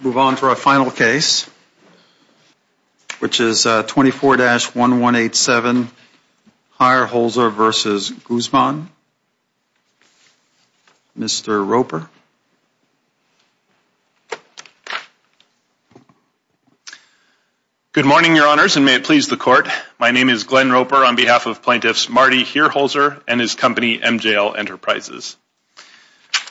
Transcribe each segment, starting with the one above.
Move on to our final case Which is 24-1187 Hierholzer versus Guzman Mr. Roper Good morning, your honors and may it please the court My name is Glenn Roper on behalf of plaintiffs Marty Hierholzer and his company MJL Enterprises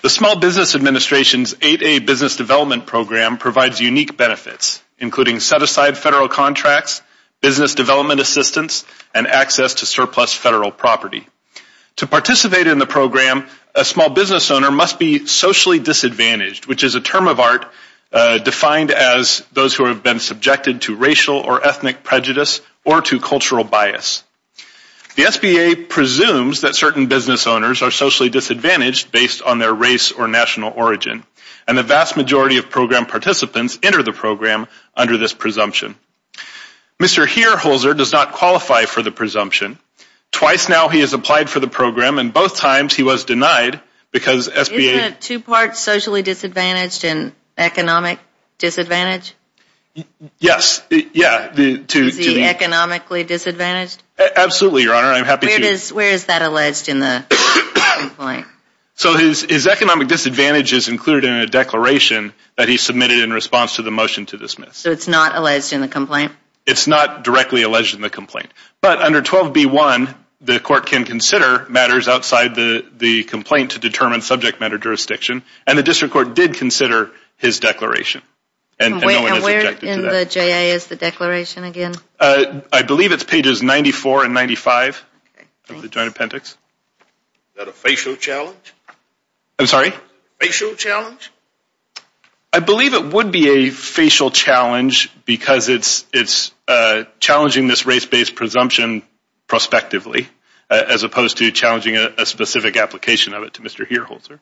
The Small Business Administration's 8a business development program provides unique benefits including set-aside federal contracts business development assistance and access to surplus federal property To participate in the program a small business owner must be socially disadvantaged, which is a term of art Defined as those who have been subjected to racial or ethnic prejudice or to cultural bias The SBA presumes that certain business owners are socially disadvantaged based on their race or national origin and the vast majority of program Participants enter the program under this presumption Mr. Hierholzer does not qualify for the presumption Twice now he has applied for the program and both times he was denied because SBA two parts socially disadvantaged and economic disadvantage Yes, yeah Economically disadvantaged absolutely your honor. I'm happy to where is that alleged in the So his economic disadvantage is included in a declaration that he submitted in response to the motion to dismiss So it's not alleged in the complaint It's not directly alleged in the complaint But under 12 b1 the court can consider matters outside the the complaint to determine subject matter Jurisdiction and the district court did consider his declaration In the JAS the declaration again, I believe it's pages 94 and 95 of the joint appendix I'm sorry I Believe it would be a facial challenge because it's it's Challenging this race-based presumption Prospectively as opposed to challenging a specific application of it to mr. Hierholzer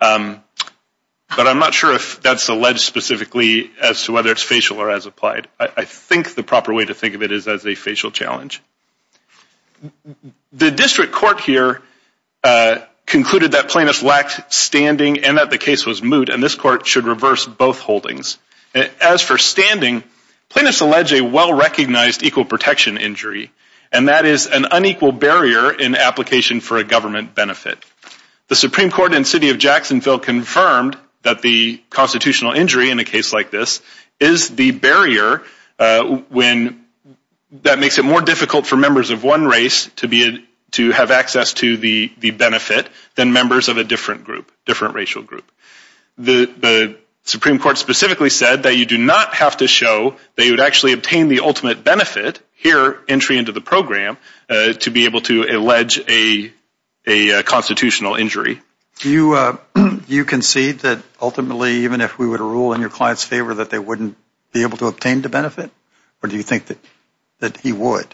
But I'm not sure if that's alleged specifically as to whether it's facial or as applied I think the proper way to think of it is as a facial challenge The district court here Concluded that plaintiffs lacked standing and that the case was moot and this court should reverse both holdings as for standing Plaintiffs allege a well-recognized equal protection injury and that is an unequal barrier in application for a government benefit The Supreme Court in city of Jacksonville confirmed that the constitutional injury in a case like this is the barrier when That makes it more difficult for members of one race to be to have access to the the benefit than members of a different group different racial group the Supreme Court specifically said that you do not have to show they would actually obtain the ultimate benefit here entry into the program to be able to allege a a unconstitutional injury you You concede that ultimately even if we were to rule in your clients favor that they wouldn't be able to obtain the benefit Or do you think that that he would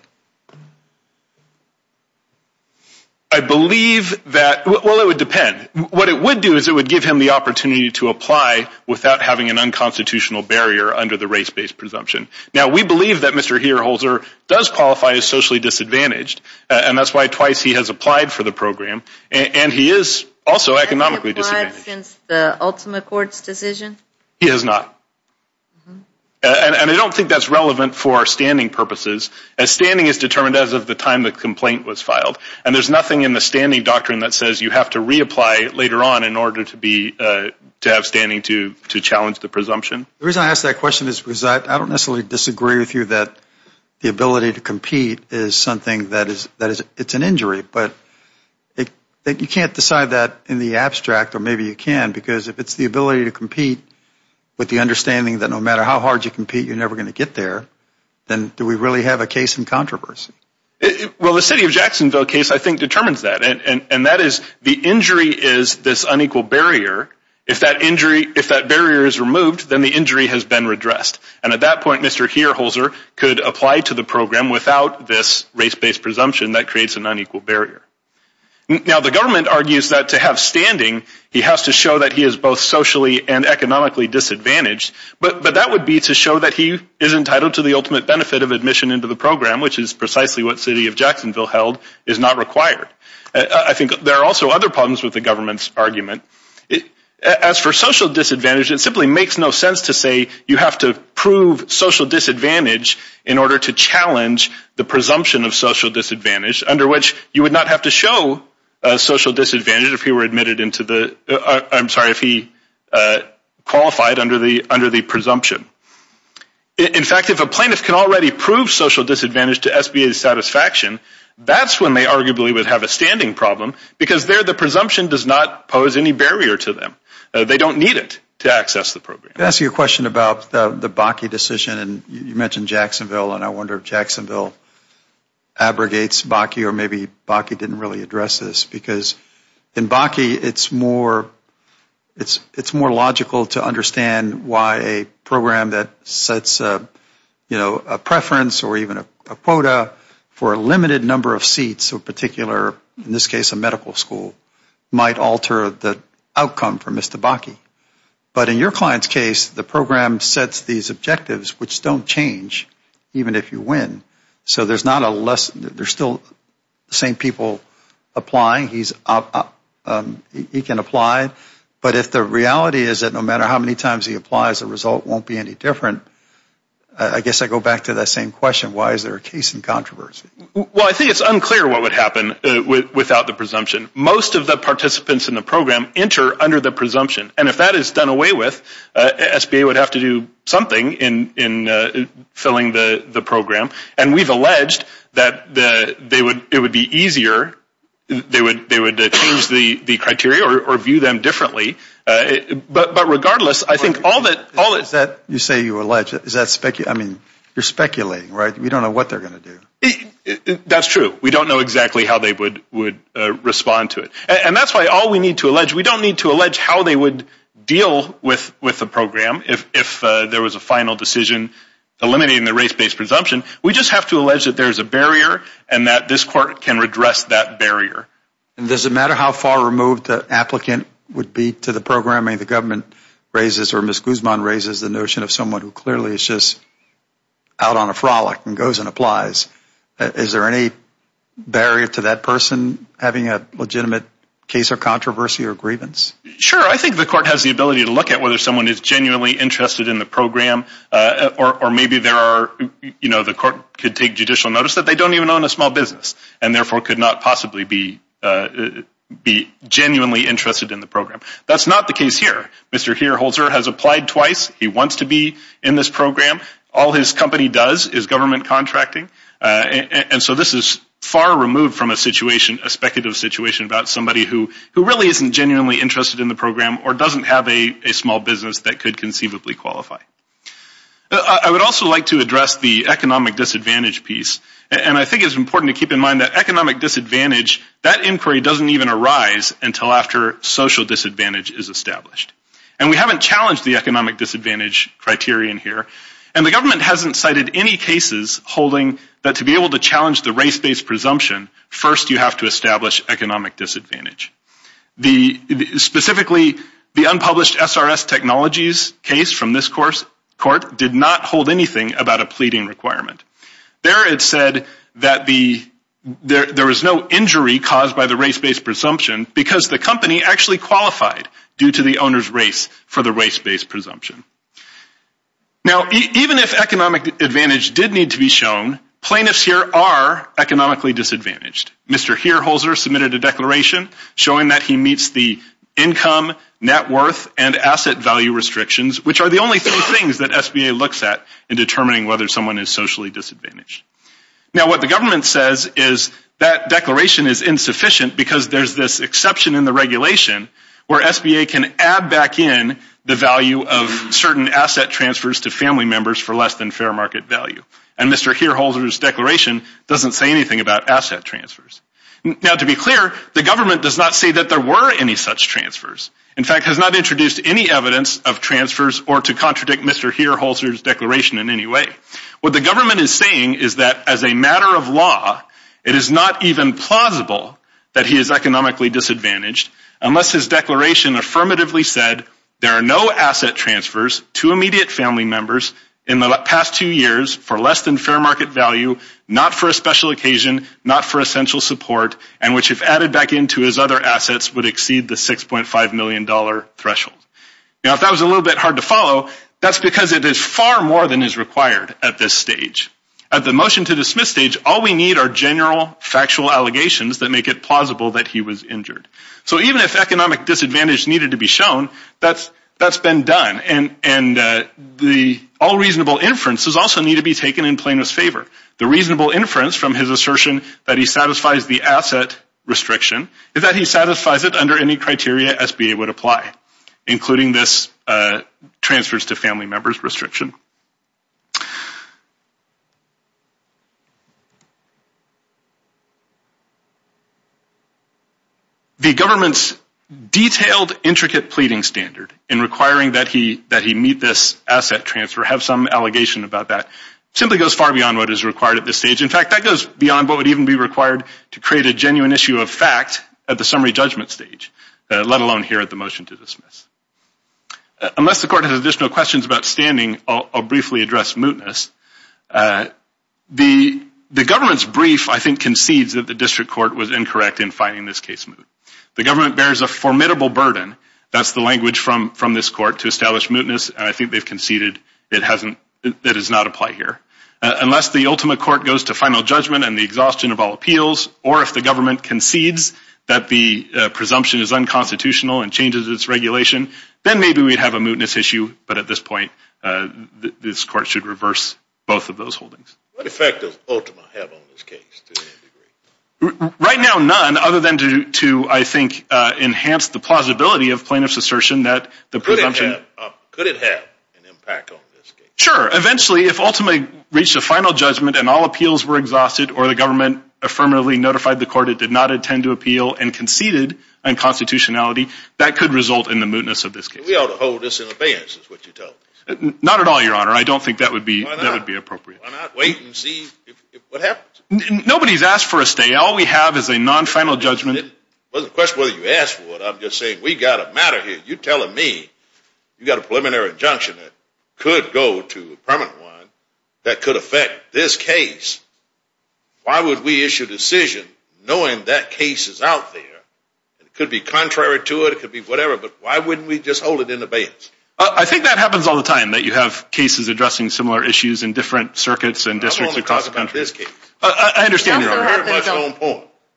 I? Believe that well, it would depend what it would do is it would give him the opportunity to apply without having an unconstitutional barrier Under the race-based presumption now, we believe that mr Hierholzer does qualify as socially disadvantaged and that's why twice he has applied for the program and He is also economically He has not And I don't think that's relevant for standing purposes as standing is determined as of the time the complaint was filed and there's nothing in the standing doctrine that says you have to reapply later on in order to be to have standing to to challenge the presumption the reason I ask that question is because I don't necessarily disagree with you that the ability to compete is something that is that is it's an injury, but That you can't decide that in the abstract or maybe you can because if it's the ability to compete With the understanding that no matter how hard you compete you're never going to get there Then do we really have a case in controversy? Well the city of Jacksonville case I think determines that and and that is the injury is this unequal barrier if that injury if that Barrier is removed then the injury has been redressed and at that point mr Hierholzer could apply to the program without this race-based presumption that creates an unequal barrier Now the government argues that to have standing he has to show that he is both socially and economically disadvantaged But but that would be to show that he is entitled to the ultimate benefit of admission into the program Which is precisely what city of Jacksonville held is not required? I think there are also other problems with the government's argument it as for social disadvantage It simply makes no sense to say you have to prove social disadvantage in order to challenge the presumption of social Disadvantage under which you would not have to show a social disadvantage if he were admitted into the I'm sorry if he qualified under the under the presumption In fact if a plaintiff can already prove social disadvantage to SBA's satisfaction That's when they arguably would have a standing problem because they're the presumption does not pose any barrier to them They don't need it to access the program ask you a question about the the Bakke decision And you mentioned Jacksonville, and I wonder if Jacksonville Abrogates Bakke or maybe Bakke didn't really address this because in Bakke it's more it's it's more logical to understand why a program that sets You know a preference or even a quota for a limited number of seats or particular in this case a medical school Might alter the outcome for mr. Bakke but in your clients case the program sets these objectives which don't change Even if you win, so there's not a lesson. They're still the same people applying he's up He can apply, but if the reality is that no matter how many times he applies the result won't be any different I? Guess I go back to that same question. Why is there a case in controversy? Well, I think it's unclear What would happen without the presumption most of the participants in the program enter under the presumption and if that is done away with? SBA would have to do something in in Filling the the program and we've alleged that the they would it would be easier They would they would change the the criteria or view them differently But but regardless, I think all that all is that you say you alleged is that spec you I mean you're speculating right? We don't know what they're gonna do That's true. We don't know exactly how they would would respond to it, and that's why all we need to allege We don't need to allege How they would deal with with the program if there was a final decision? Eliminating the race-based presumption. We just have to allege that there's a barrier and that this court can redress that barrier And does it matter how far removed the applicant would be to the programming the government? Raises or miss Guzman raises the notion of someone who clearly is just Out on a frolic and goes and applies Is there any? Barrier to that person having a legitimate case of controversy or grievance. Sure I think the court has the ability to look at whether someone is genuinely interested in the program or maybe there are you know, the court could take judicial notice that they don't even own a small business and therefore could not possibly be Be genuinely interested in the program. That's not the case here. Mr. Here holds her has applied twice He wants to be in this program. All his company does is government contracting? And so this is far removed from a situation a speculative situation about somebody who who really isn't genuinely interested in the program? Or doesn't have a small business that could conceivably qualify. I Would also like to address the economic disadvantage piece and I think it's important to keep in mind that economic disadvantage That inquiry doesn't even arise until after social disadvantage is established and we haven't challenged the economic disadvantage Criterion here and the government hasn't cited any cases holding that to be able to challenge the race based presumption First you have to establish economic disadvantage the Specifically the unpublished SRS technologies case from this course court did not hold anything about a pleading requirement there it said that the There there was no injury caused by the race based presumption because the company actually qualified due to the owners race for the race based presumption Now even if economic advantage did need to be shown plaintiffs here are economically disadvantaged Mr. Here holzer submitted a declaration showing that he meets the income net worth and asset value Restrictions which are the only three things that SBA looks at in determining whether someone is socially disadvantaged Now what the government says is that declaration is insufficient because there's this exception in the regulation Where SBA can add back in the value of certain asset transfers to family members for less than fair market value and Mr Here holzer's declaration doesn't say anything about asset transfers Now to be clear the government does not say that there were any such transfers In fact has not introduced any evidence of transfers or to contradict. Mr Here holzer's declaration in any way what the government is saying is that as a matter of law It is not even plausible that he is economically disadvantaged unless his declaration Affirmatively said there are no asset transfers to immediate family members in the past two years for less than fair market value Not for a special occasion Not for essential support and which if added back into his other assets would exceed the six point five million dollar threshold Now if that was a little bit hard to follow That's because it is far more than is required at this stage At the motion to dismiss stage all we need are general factual allegations that make it plausible that he was injured so even if economic disadvantage needed to be shown that's that's been done and and The all reasonable inferences also need to be taken in plaintiff's favor the reasonable inference from his assertion that he satisfies the asset Restriction is that he satisfies it under any criteria SBA would apply including this transfers to family members restriction You The government's Detailed intricate pleading standard in requiring that he that he meet this asset transfer have some allegation about that Simply goes far beyond what is required at this stage In fact that goes beyond what would even be required to create a genuine issue of fact at the summary judgment stage Let alone here at the motion to dismiss Unless the court has additional questions about standing. I'll briefly address mootness the The government's brief I think concedes that the district court was incorrect in finding this case move the government bears a formidable burden That's the language from from this court to establish mootness And I think they've conceded it hasn't that is not apply here unless the ultimate court goes to final judgment and the exhaustion of all appeals or if the government concedes that the Presumption is unconstitutional and changes its regulation then maybe we'd have a mootness issue, but at this point This court should reverse both of those holdings effective Right now none other than to I think enhance the plausibility of plaintiff's assertion that the Sure eventually if ultimately reach the final judgment and all appeals were exhausted or the government Affirmatively notified the court it did not attend to appeal and conceded and constitutionality that could result in the mootness of this Hold this in abeyance Not at all your honor. I don't think that would be Nobody's asked for a stay all we have is a non-final judgment It was a question whether you asked for what I'm just saying we got a matter here You're telling me you got a preliminary injunction that could go to a permanent one that could affect this case Why would we issue decision knowing that case is out there? It could be contrary to it could be whatever, but why wouldn't we just hold it in abeyance? I think that happens all the time that you have cases addressing similar issues in different circuits and districts across the country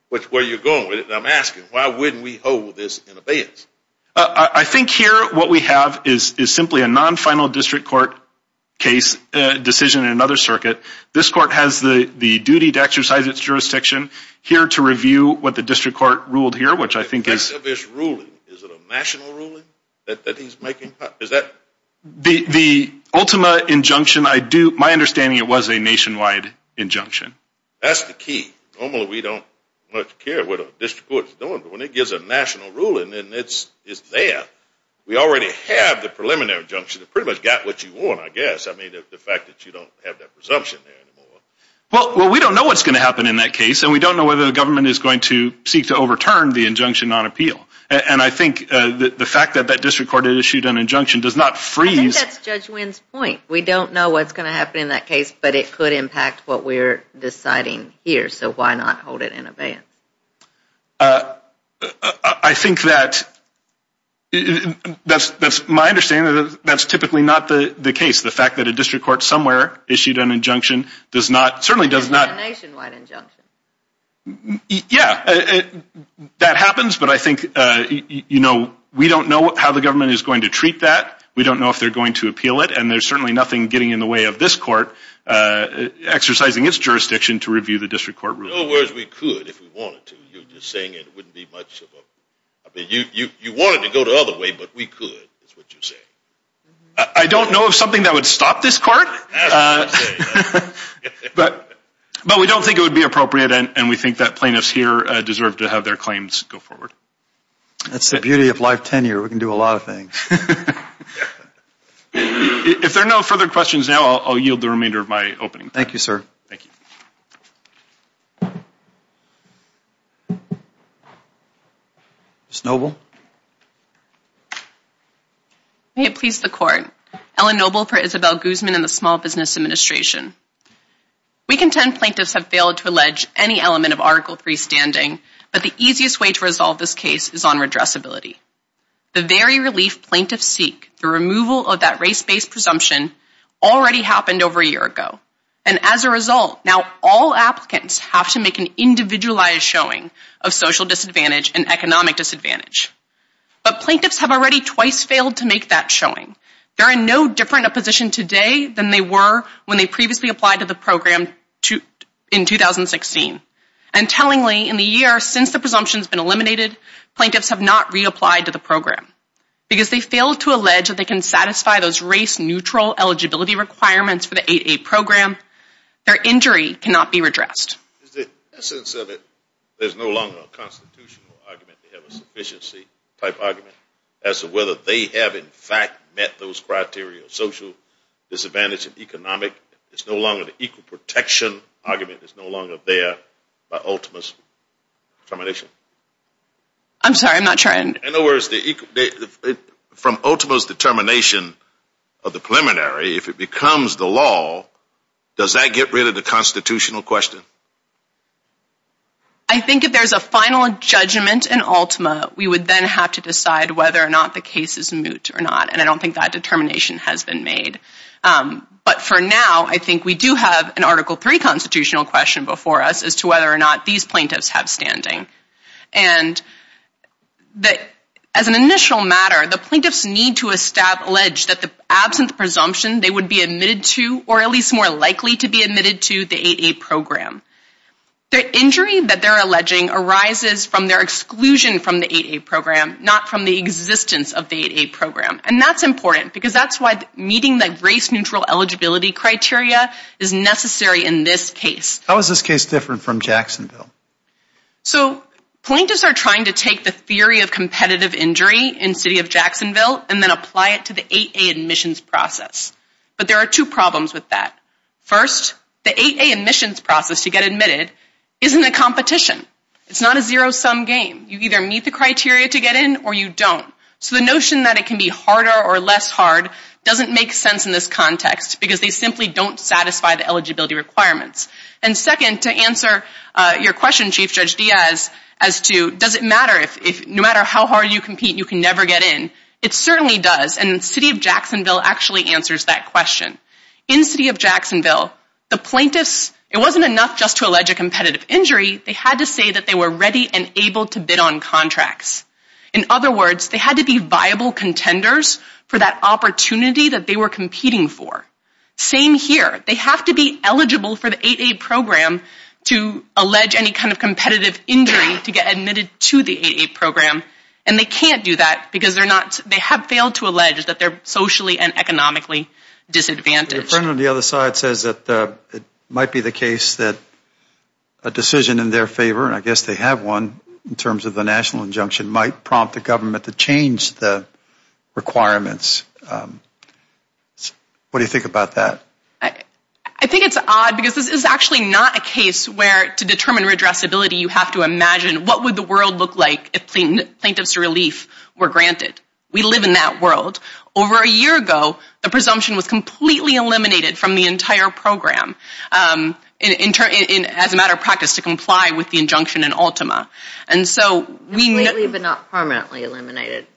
Which where you're going with it, and I'm asking why wouldn't we hold this in abeyance? I think here what we have is is simply a non-final district court case Decision in another circuit this court has the the duty to exercise its jurisdiction Here to review what the district court ruled here, which I think is The the Ultima injunction I do my understanding it was a nationwide Injunction that's the key normally we don't much care. What a district court No one when it gives a national ruling, and it's it's there We already have the preliminary injunction that pretty much got what you want I guess I mean the fact that you don't have that presumption there anymore Well well we don't know what's going to happen in that case And we don't know whether the government is going to seek to overturn the injunction on appeal And I think the fact that that district court issued an injunction does not freeze We don't know what's going to happen in that case, but it could impact what we're deciding here, so why not hold it in abeyance I? Think that That's that's my understanding That's typically not the the case the fact that a district court somewhere issued an injunction does not certainly does not Yeah That happens, but I think you know we don't know how the government is going to treat that We don't know if they're going to appeal it, and there's certainly nothing getting in the way of this court Exercising its jurisdiction to review the district court You you wanted to go the other way, but we could I don't know of something that would stop this court But but we don't think it would be appropriate and we think that plaintiffs here deserve to have their claims go forward That's the beauty of life tenure. We can do a lot of things If there are no further questions now, I'll yield the remainder of my opening. Thank you, sir Thank you It's noble May it please the court Ellen noble for Isabel Guzman in the small business administration We contend plaintiffs have failed to allege any element of article 3 standing But the easiest way to resolve this case is on redress ability the very relief plaintiffs seek the removal of that race-based presumption already happened over a year ago and As a result now all applicants have to make an individualized showing of social disadvantage and economic disadvantage But plaintiffs have already twice failed to make that showing there are no different a position today than they were when they previously applied to the program to in 2016 and Tellingly in the year since the presumptions been eliminated Plaintiffs have not reapplied to the program because they failed to allege that they can satisfy those race-neutral Eligibility requirements for the 8a program. Their injury cannot be redressed As of whether they have in fact met those criteria social Disadvantage of economic. It's no longer the equal protection argument. It's no longer there by ultimates termination I'm sorry, I'm not trying to know where's the From Ultima's determination of the preliminary if it becomes the law does that get rid of the constitutional question? I Think if there's a final judgment in Ultima We would then have to decide whether or not the case is moot or not, and I don't think that determination has been made but for now I think we do have an article 3 constitutional question before us as to whether or not these plaintiffs have standing and That as an initial matter the plaintiffs need to establish that the absent presumption They would be admitted to or at least more likely to be admitted to the 8a program the injury that they're alleging arises from their exclusion from the 8a program not from the Existence of the 8a program and that's important because that's why meeting the race-neutral Eligibility criteria is necessary in this case. How is this case different from Jacksonville? So Plaintiffs are trying to take the theory of competitive injury in city of Jacksonville and then apply it to the 8a admissions process But there are two problems with that First the 8a admissions process to get admitted isn't a competition It's not a zero-sum game You either meet the criteria to get in or you don't so the notion that it can be harder or less hard Doesn't make sense in this context because they simply don't satisfy the eligibility requirements and second to answer Your question Chief Judge Diaz as to does it matter if no matter how hard you compete you can never get in It certainly does and city of Jacksonville actually answers that question In city of Jacksonville the plaintiffs it wasn't enough just to allege a competitive injury They had to say that they were ready and able to bid on contracts in other words They had to be viable contenders for that opportunity that they were competing for Same here They have to be eligible for the 8a program to Allege any kind of competitive injury to get admitted to the 8a program And they can't do that because they're not they have failed to allege that they're socially and economically disadvantaged on the other side says that it might be the case that a Decision in their favor, and I guess they have one in terms of the national injunction might prompt the government to change the requirements I What do you think about that? I I think it's odd because this is actually not a case where to determine redress ability you have to imagine What would the world look like if clean plaintiffs relief were granted? We live in that world over a year ago. The presumption was completely eliminated from the entire program In turn in as a matter of practice to comply with the injunction in Ultima And so we may leave it not permanently eliminated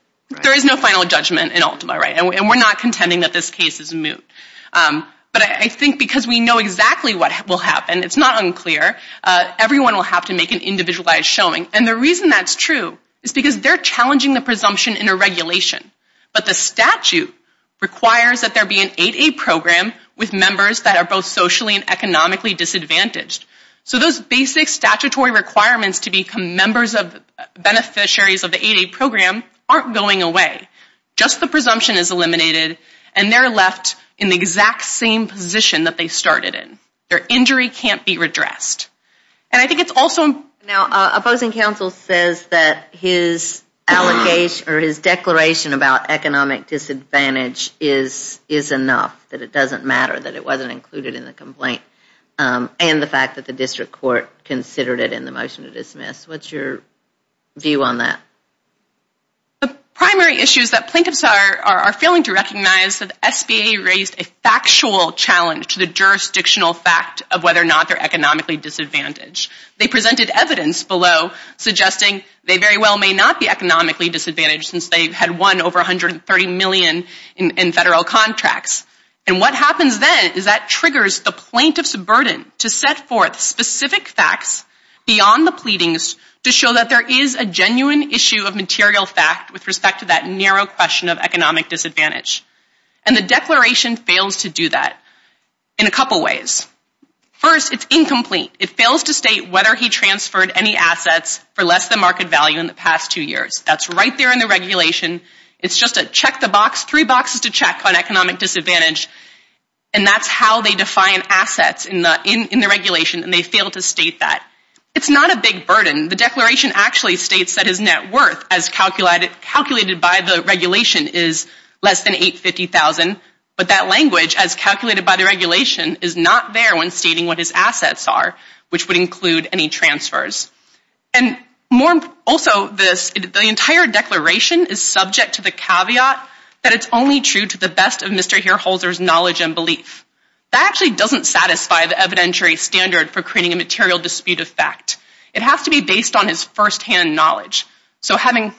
There is no final judgment in Ultima right and we're not contending that this case is moot But I think because we know exactly what will happen. It's not unclear Everyone will have to make an individualized showing and the reason that's true is because they're challenging the presumption in a regulation but the statute Requires that there be an 8a program with members that are both socially and economically disadvantaged So those basic statutory requirements to become members of Beneficiaries of the 8a program aren't going away Just the presumption is eliminated and they're left in the exact same position that they started in their injury can't be redressed And I think it's also now opposing counsel says that his Allocation or his declaration about economic disadvantage is is enough that it doesn't matter that it wasn't included in the complaint And the fact that the district court considered it in the motion to dismiss what's your view on that? the primary issues that plaintiffs are are failing to recognize that SBA raised a Factual challenge to the jurisdictional fact of whether or not they're economically disadvantaged They presented evidence below Suggesting they very well may not be economically disadvantaged since they've had won over 130 million in Federal contracts and what happens then is that triggers the plaintiff's burden to set forth specific facts beyond the pleadings to show that there is a genuine issue of material fact with respect to that narrow question of economic disadvantage and The declaration fails to do that in a couple ways First it's incomplete. It fails to state whether he transferred any assets for less than market value in the past two years That's right there in the regulation. It's just a check the box three boxes to check on economic disadvantage And that's how they define assets in the in the regulation and they fail to state that It's not a big burden the declaration actually states that his net worth as calculated calculated by the regulation is less than 850,000 but that language as calculated by the regulation is not there when stating what his assets are which would include any transfers and More also this the entire declaration is subject to the caveat that it's only true to the best of Mr Here holders knowledge and belief that actually doesn't satisfy the evidentiary standard for creating a material dispute of fact It has to be based on his first-hand knowledge So having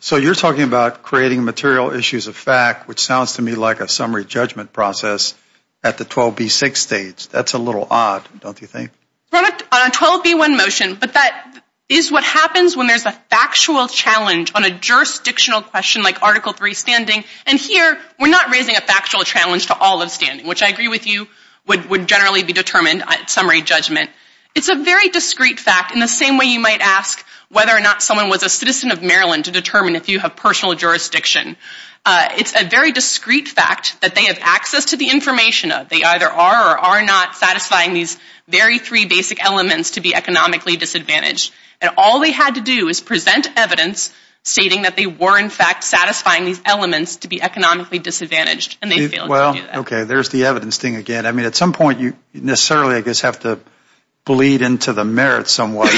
so you're talking about creating material issues of fact, which sounds to me like a summary judgment process At the 12b6 states, that's a little odd On 12b1 motion But that is what happens when there's a factual challenge on a jurisdictional question like article 3 standing and here We're not raising a factual challenge to all of standing which I agree with you would would generally be determined at summary judgment It's a very discrete fact in the same way You might ask whether or not someone was a citizen of Maryland to determine if you have personal jurisdiction It's a very discrete fact that they have access to the information of they either are or are not satisfying these Very three basic elements to be economically disadvantaged and all they had to do is present evidence Stating that they were in fact satisfying these elements to be economically disadvantaged and they well, okay There's the evidence thing again. I mean at some point you necessarily I guess have to bleed into the merit somewhat.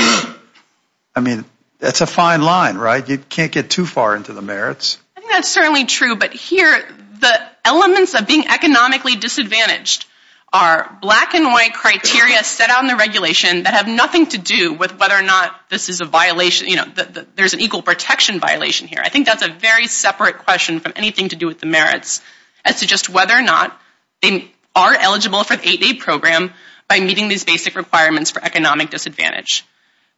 I Mean, that's a fine line, right? You can't get too far into the merits I think that's certainly true. But here the elements of being economically disadvantaged are Black and white criteria set out in the regulation that have nothing to do with whether or not this is a violation You know, there's an equal protection violation here I think that's a very separate question from anything to do with the merits as to just whether or not They are eligible for the 8a program by meeting these basic requirements for economic disadvantage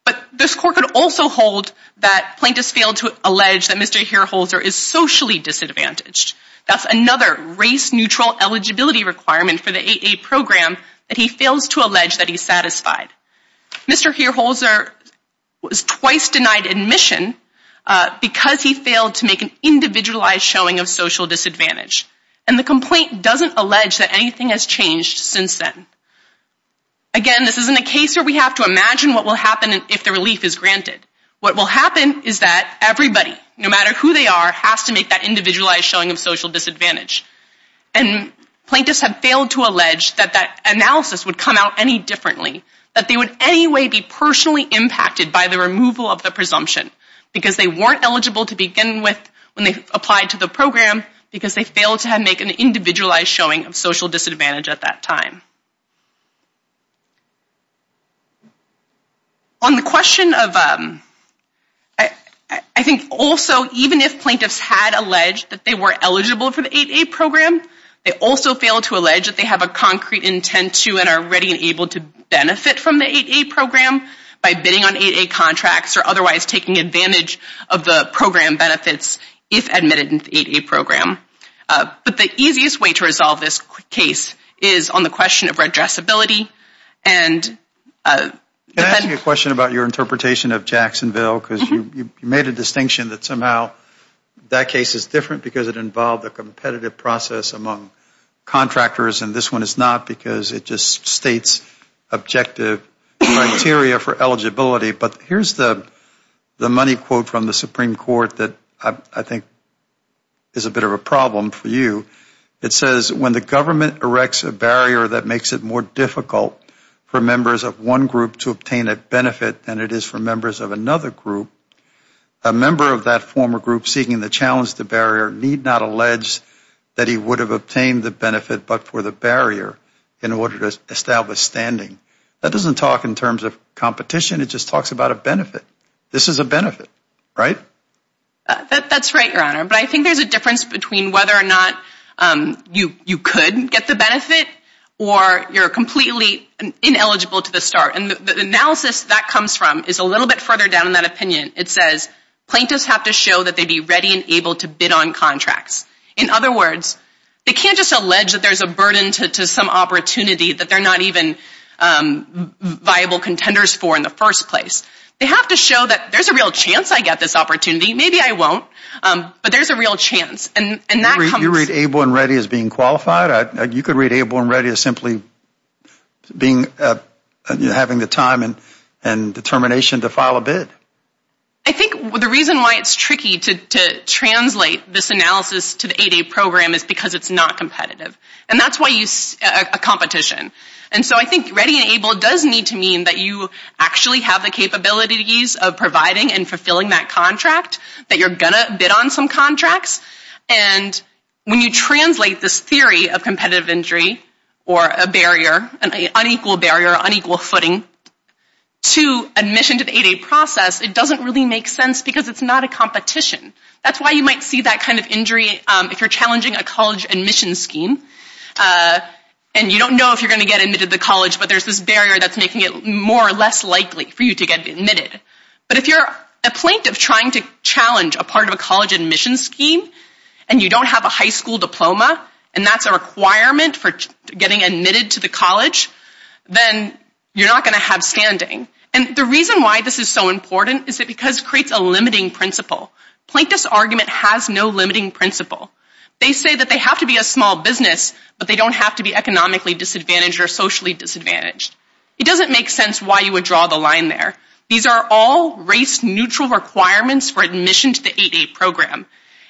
But this court could also hold that plaintiffs failed to allege that Mr. Hereholzer is socially disadvantaged That's another race neutral eligibility requirement for the 8a program that he fails to allege that he's satisfied Mr. Hereholzer Was twice denied admission Because he failed to make an individualized showing of social disadvantage and the complaint doesn't allege that anything has changed since then Again, this isn't a case where we have to imagine what will happen if the relief is granted What will happen is that everybody no matter who they are has to make that individualized showing of social disadvantage and Plaintiffs have failed to allege that that analysis would come out any differently that they would anyway be personally impacted by the removal of the presumption because they weren't eligible to begin with when they applied to the program because they failed to have make an individualized showing of social disadvantage at that time On The question of I Think also even if plaintiffs had alleged that they were eligible for the 8a program They also failed to allege that they have a concrete intent to and are ready and able to benefit from the 8a program By bidding on 8a contracts or otherwise taking advantage of the program benefits if admitted in the 8a program But the easiest way to resolve this case is on the question of redress ability and A question about your interpretation of Jacksonville because you made a distinction that somehow That case is different because it involved a competitive process among Contractors and this one is not because it just states objective criteria for eligibility, but here's the money quote from the Supreme Court that I think Is a bit of a problem for you It says when the government erects a barrier that makes it more difficult for members of one group to obtain a benefit than it is for members of another group a Member of that former group seeking the challenge the barrier need not allege That he would have obtained the benefit but for the barrier in order to establish standing That doesn't talk in terms of competition. It just talks about a benefit. This is a benefit, right? That's right your honor, but I think there's a difference between whether or not You you couldn't get the benefit or you're completely Ineligible to the start and the analysis that comes from is a little bit further down in that opinion It says plaintiffs have to show that they be ready and able to bid on contracts in other words They can't just allege that there's a burden to some opportunity that they're not even Viable contenders for in the first place. They have to show that there's a real chance. I get this opportunity. Maybe I won't But there's a real chance and you read able and ready as being qualified. You could read able and ready to simply being having the time and determination to file a bid I think the reason why it's tricky to Translate this analysis to the 8a program is because it's not competitive and that's why you see a competition And so I think ready and able does need to mean that you actually have the capabilities of providing and fulfilling that contract that you're gonna bid on some contracts and When you translate this theory of competitive injury or a barrier an unequal barrier unequal footing To admission to the 8a process. It doesn't really make sense because it's not a competition That's why you might see that kind of injury if you're challenging a college admission scheme And you don't know if you're gonna get admitted to the college, but there's this barrier That's making it more or less likely for you to get admitted but if you're a plaintiff trying to challenge a part of a college admission scheme and You don't have a high school diploma and that's a requirement for getting admitted to the college Then you're not gonna have standing and the reason why this is so important is it because creates a limiting principle Plaintiff's argument has no limiting principle They say that they have to be a small business, but they don't have to be economically disadvantaged or socially disadvantaged It doesn't make sense why you would draw the line there These are all race neutral requirements for admission to the 8a program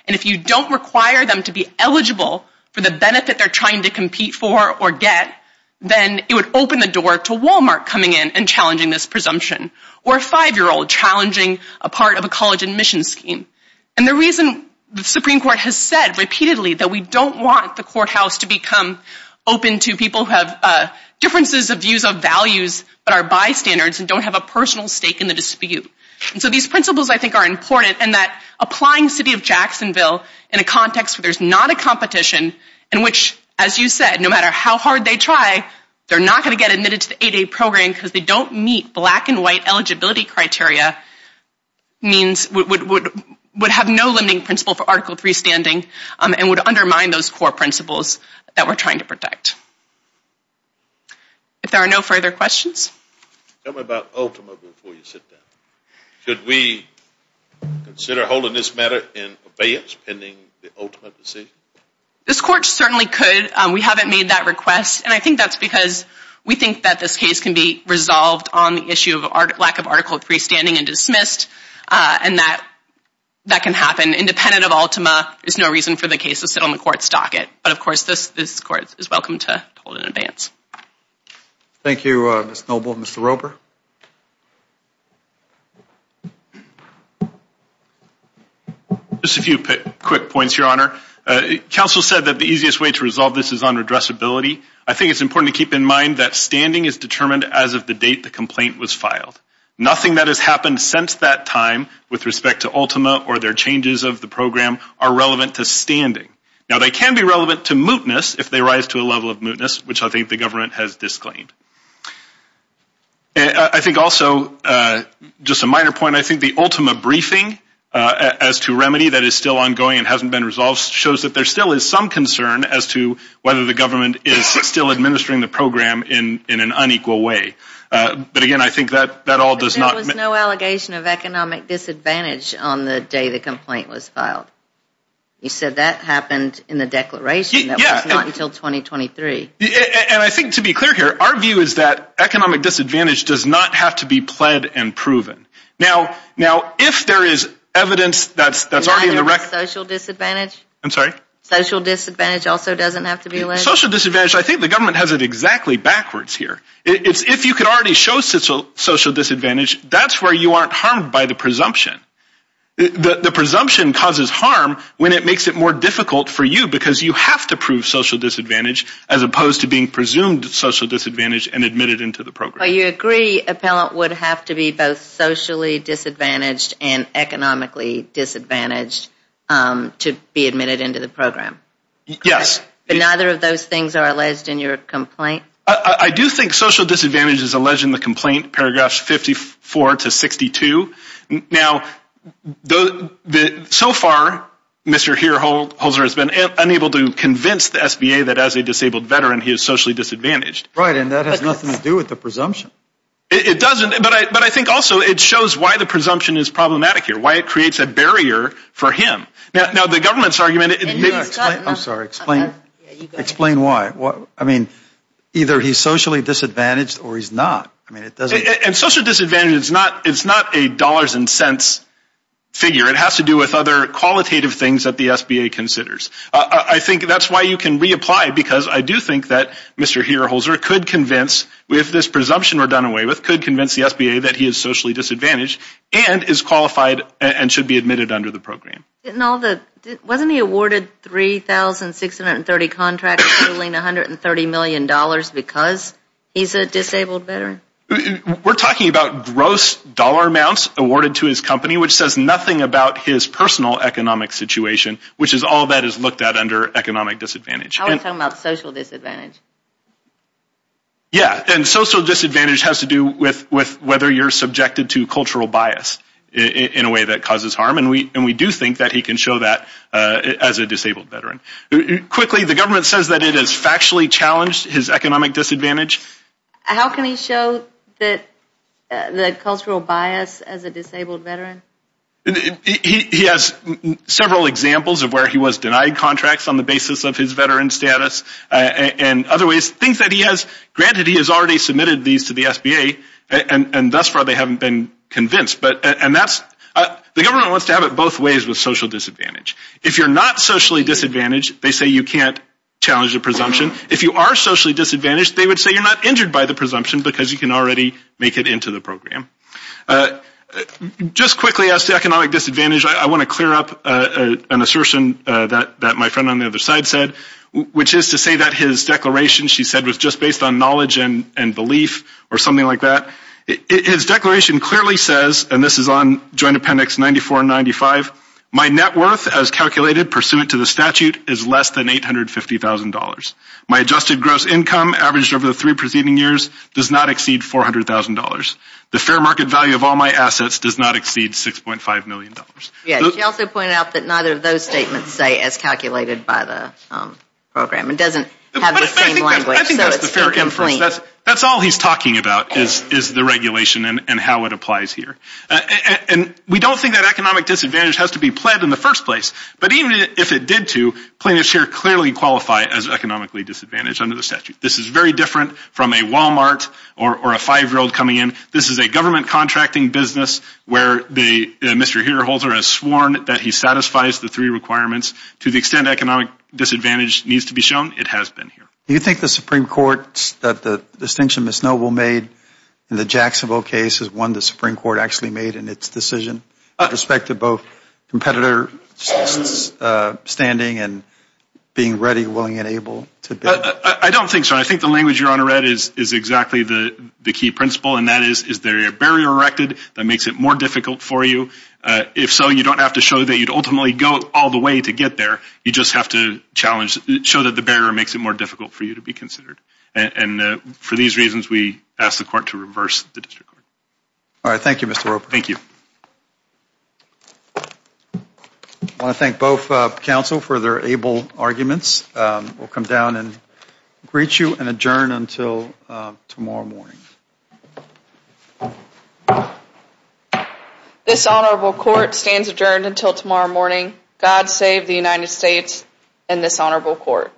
And if you don't require them to be eligible for the benefit They're trying to compete for or get Then it would open the door to Walmart coming in and challenging this presumption or a five-year-old Challenging a part of a college admission scheme and the reason the Supreme Court has said repeatedly that we don't want the courthouse to become open to people who have Differences of views of values but are bystanders and don't have a personal stake in the dispute And so these principles I think are important and that applying City of Jacksonville in a context where there's not a competition And which as you said no matter how hard they try They're not going to get admitted to the 8a program because they don't meet black and white eligibility criteria Means would would would have no limiting principle for article 3 standing and would undermine those core principles that we're trying to protect If there are no further questions Should we Consider holding this matter in abeyance pending the ultimate decision This court certainly could we haven't made that request and I think that's because we think that this case can be Resolved on the issue of art lack of article 3 standing and dismissed and that That can happen independent of Ultima. There's no reason for the case to sit on the court's docket But of course this this court is welcome to hold in advance Thank you, Miss Noble, Mr. Roper Just a few quick points your honor Council said that the easiest way to resolve this is under address ability I think it's important to keep in mind that standing is determined as of the date The complaint was filed Nothing that has happened since that time with respect to Ultima or their changes of the program are relevant to standing Now they can be relevant to mootness if they rise to a level of mootness, which I think the government has disclaimed And I think also Just a minor point. I think the Ultima briefing As to remedy that is still ongoing and hasn't been resolved shows that there still is some concern as to whether the government is Still administering the program in in an unequal way But again, I think that that all does not know allegation of economic disadvantage on the day. The complaint was filed You said that happened in the declaration. Yeah until 2023 And I think to be clear here our view is that economic disadvantage does not have to be pled and proven now now if there is Evidence, that's that's already in the wreck social disadvantage. I'm sorry social disadvantage also doesn't have to be a social disadvantage I think the government has it exactly backwards here. It's if you could already show social disadvantage That's where you aren't harmed by the presumption The presumption causes harm when it makes it more difficult for you because you have to prove social disadvantage as opposed to being presumed Social disadvantage and admitted into the program. You agree appellant would have to be both socially disadvantaged and economically disadvantaged To be admitted into the program Yes, but neither of those things are alleged in your complaint I do think social disadvantage is alleged in the complaint paragraphs 54 to 62 now the the so far Mr. Here hold Holzer has been unable to convince the SBA that as a disabled veteran he is socially disadvantaged, right? And that has nothing to do with the presumption It doesn't but I but I think also it shows why the presumption is problematic here why it creates a barrier for him now The government's argument. I'm sorry explain Explain why what I mean either he's socially disadvantaged or he's not I mean it doesn't and social disadvantage It's not it's not a dollars and cents Figure it has to do with other qualitative things that the SBA considers I think that's why you can reapply because I do think that mr. Here Holzer could convince with this presumption or done away with could convince the SBA that he is socially disadvantaged And is qualified and should be admitted under the program. Didn't all that wasn't he awarded three thousand six hundred and thirty contracts? I mean a hundred and thirty million dollars because he's a disabled better We're talking about gross dollar amounts awarded to his company, which says nothing about his personal economic situation Which is all that is looked at under economic disadvantage about social disadvantage Yeah, and social disadvantage has to do with with whether you're subjected to cultural bias In a way that causes harm and we and we do think that he can show that as a disabled veteran Quickly the government says that it is factually challenged his economic disadvantage. How can he show that? the cultural bias as a disabled veteran He has several examples of where he was denied contracts on the basis of his veteran status And other ways things that he has granted. He has already submitted these to the SBA and and thus far they haven't been convinced But and that's the government wants to have it both ways with social disadvantage if you're not socially disadvantaged They say you can't challenge the presumption if you are socially disadvantaged They would say you're not injured by the presumption because you can already make it into the program Just quickly as to economic disadvantage I want to clear up an assertion that that my friend on the other side said which is to say that his Declaration she said was just based on knowledge and and belief or something like that His declaration clearly says and this is on Joint Appendix 94 95 My net worth as calculated pursuant to the statute is less than eight hundred fifty thousand dollars My adjusted gross income averaged over the three preceding years does not exceed four hundred thousand dollars The fair market value of all my assets does not exceed six point five million dollars yeah, she also pointed out that neither of those statements say as calculated by the Program it doesn't That's all he's talking about is is the regulation and how it applies here And we don't think that economic disadvantage has to be pled in the first place But even if it did to plaintiffs here clearly qualify as economically disadvantaged under the statute This is very different from a Walmart or a five-year-old coming in. This is a government contracting business where the Mr. Here holder has sworn that he satisfies the three requirements to the extent economic disadvantage needs to be shown It has been here Do you think the Supreme Court that the distinction Miss Noble made? In the Jacksonville case is one the Supreme Court actually made in its decision respective both competitor Standing and Being ready willing and able to but I don't think so I think the language your honor read is is exactly the the key principle and that is is there a barrier erected that makes it More difficult for you If so, you don't have to show that you'd ultimately go all the way to get there you just have to challenge show that the bearer makes it more difficult for you to be considered and For these reasons we ask the court to reverse the district. All right. Thank you. Mr. Roper. Thank you I want to thank both counsel for their able arguments. We'll come down and greet you and adjourn until tomorrow morning This honorable court stands adjourned until tomorrow morning God save the United States in this honorable court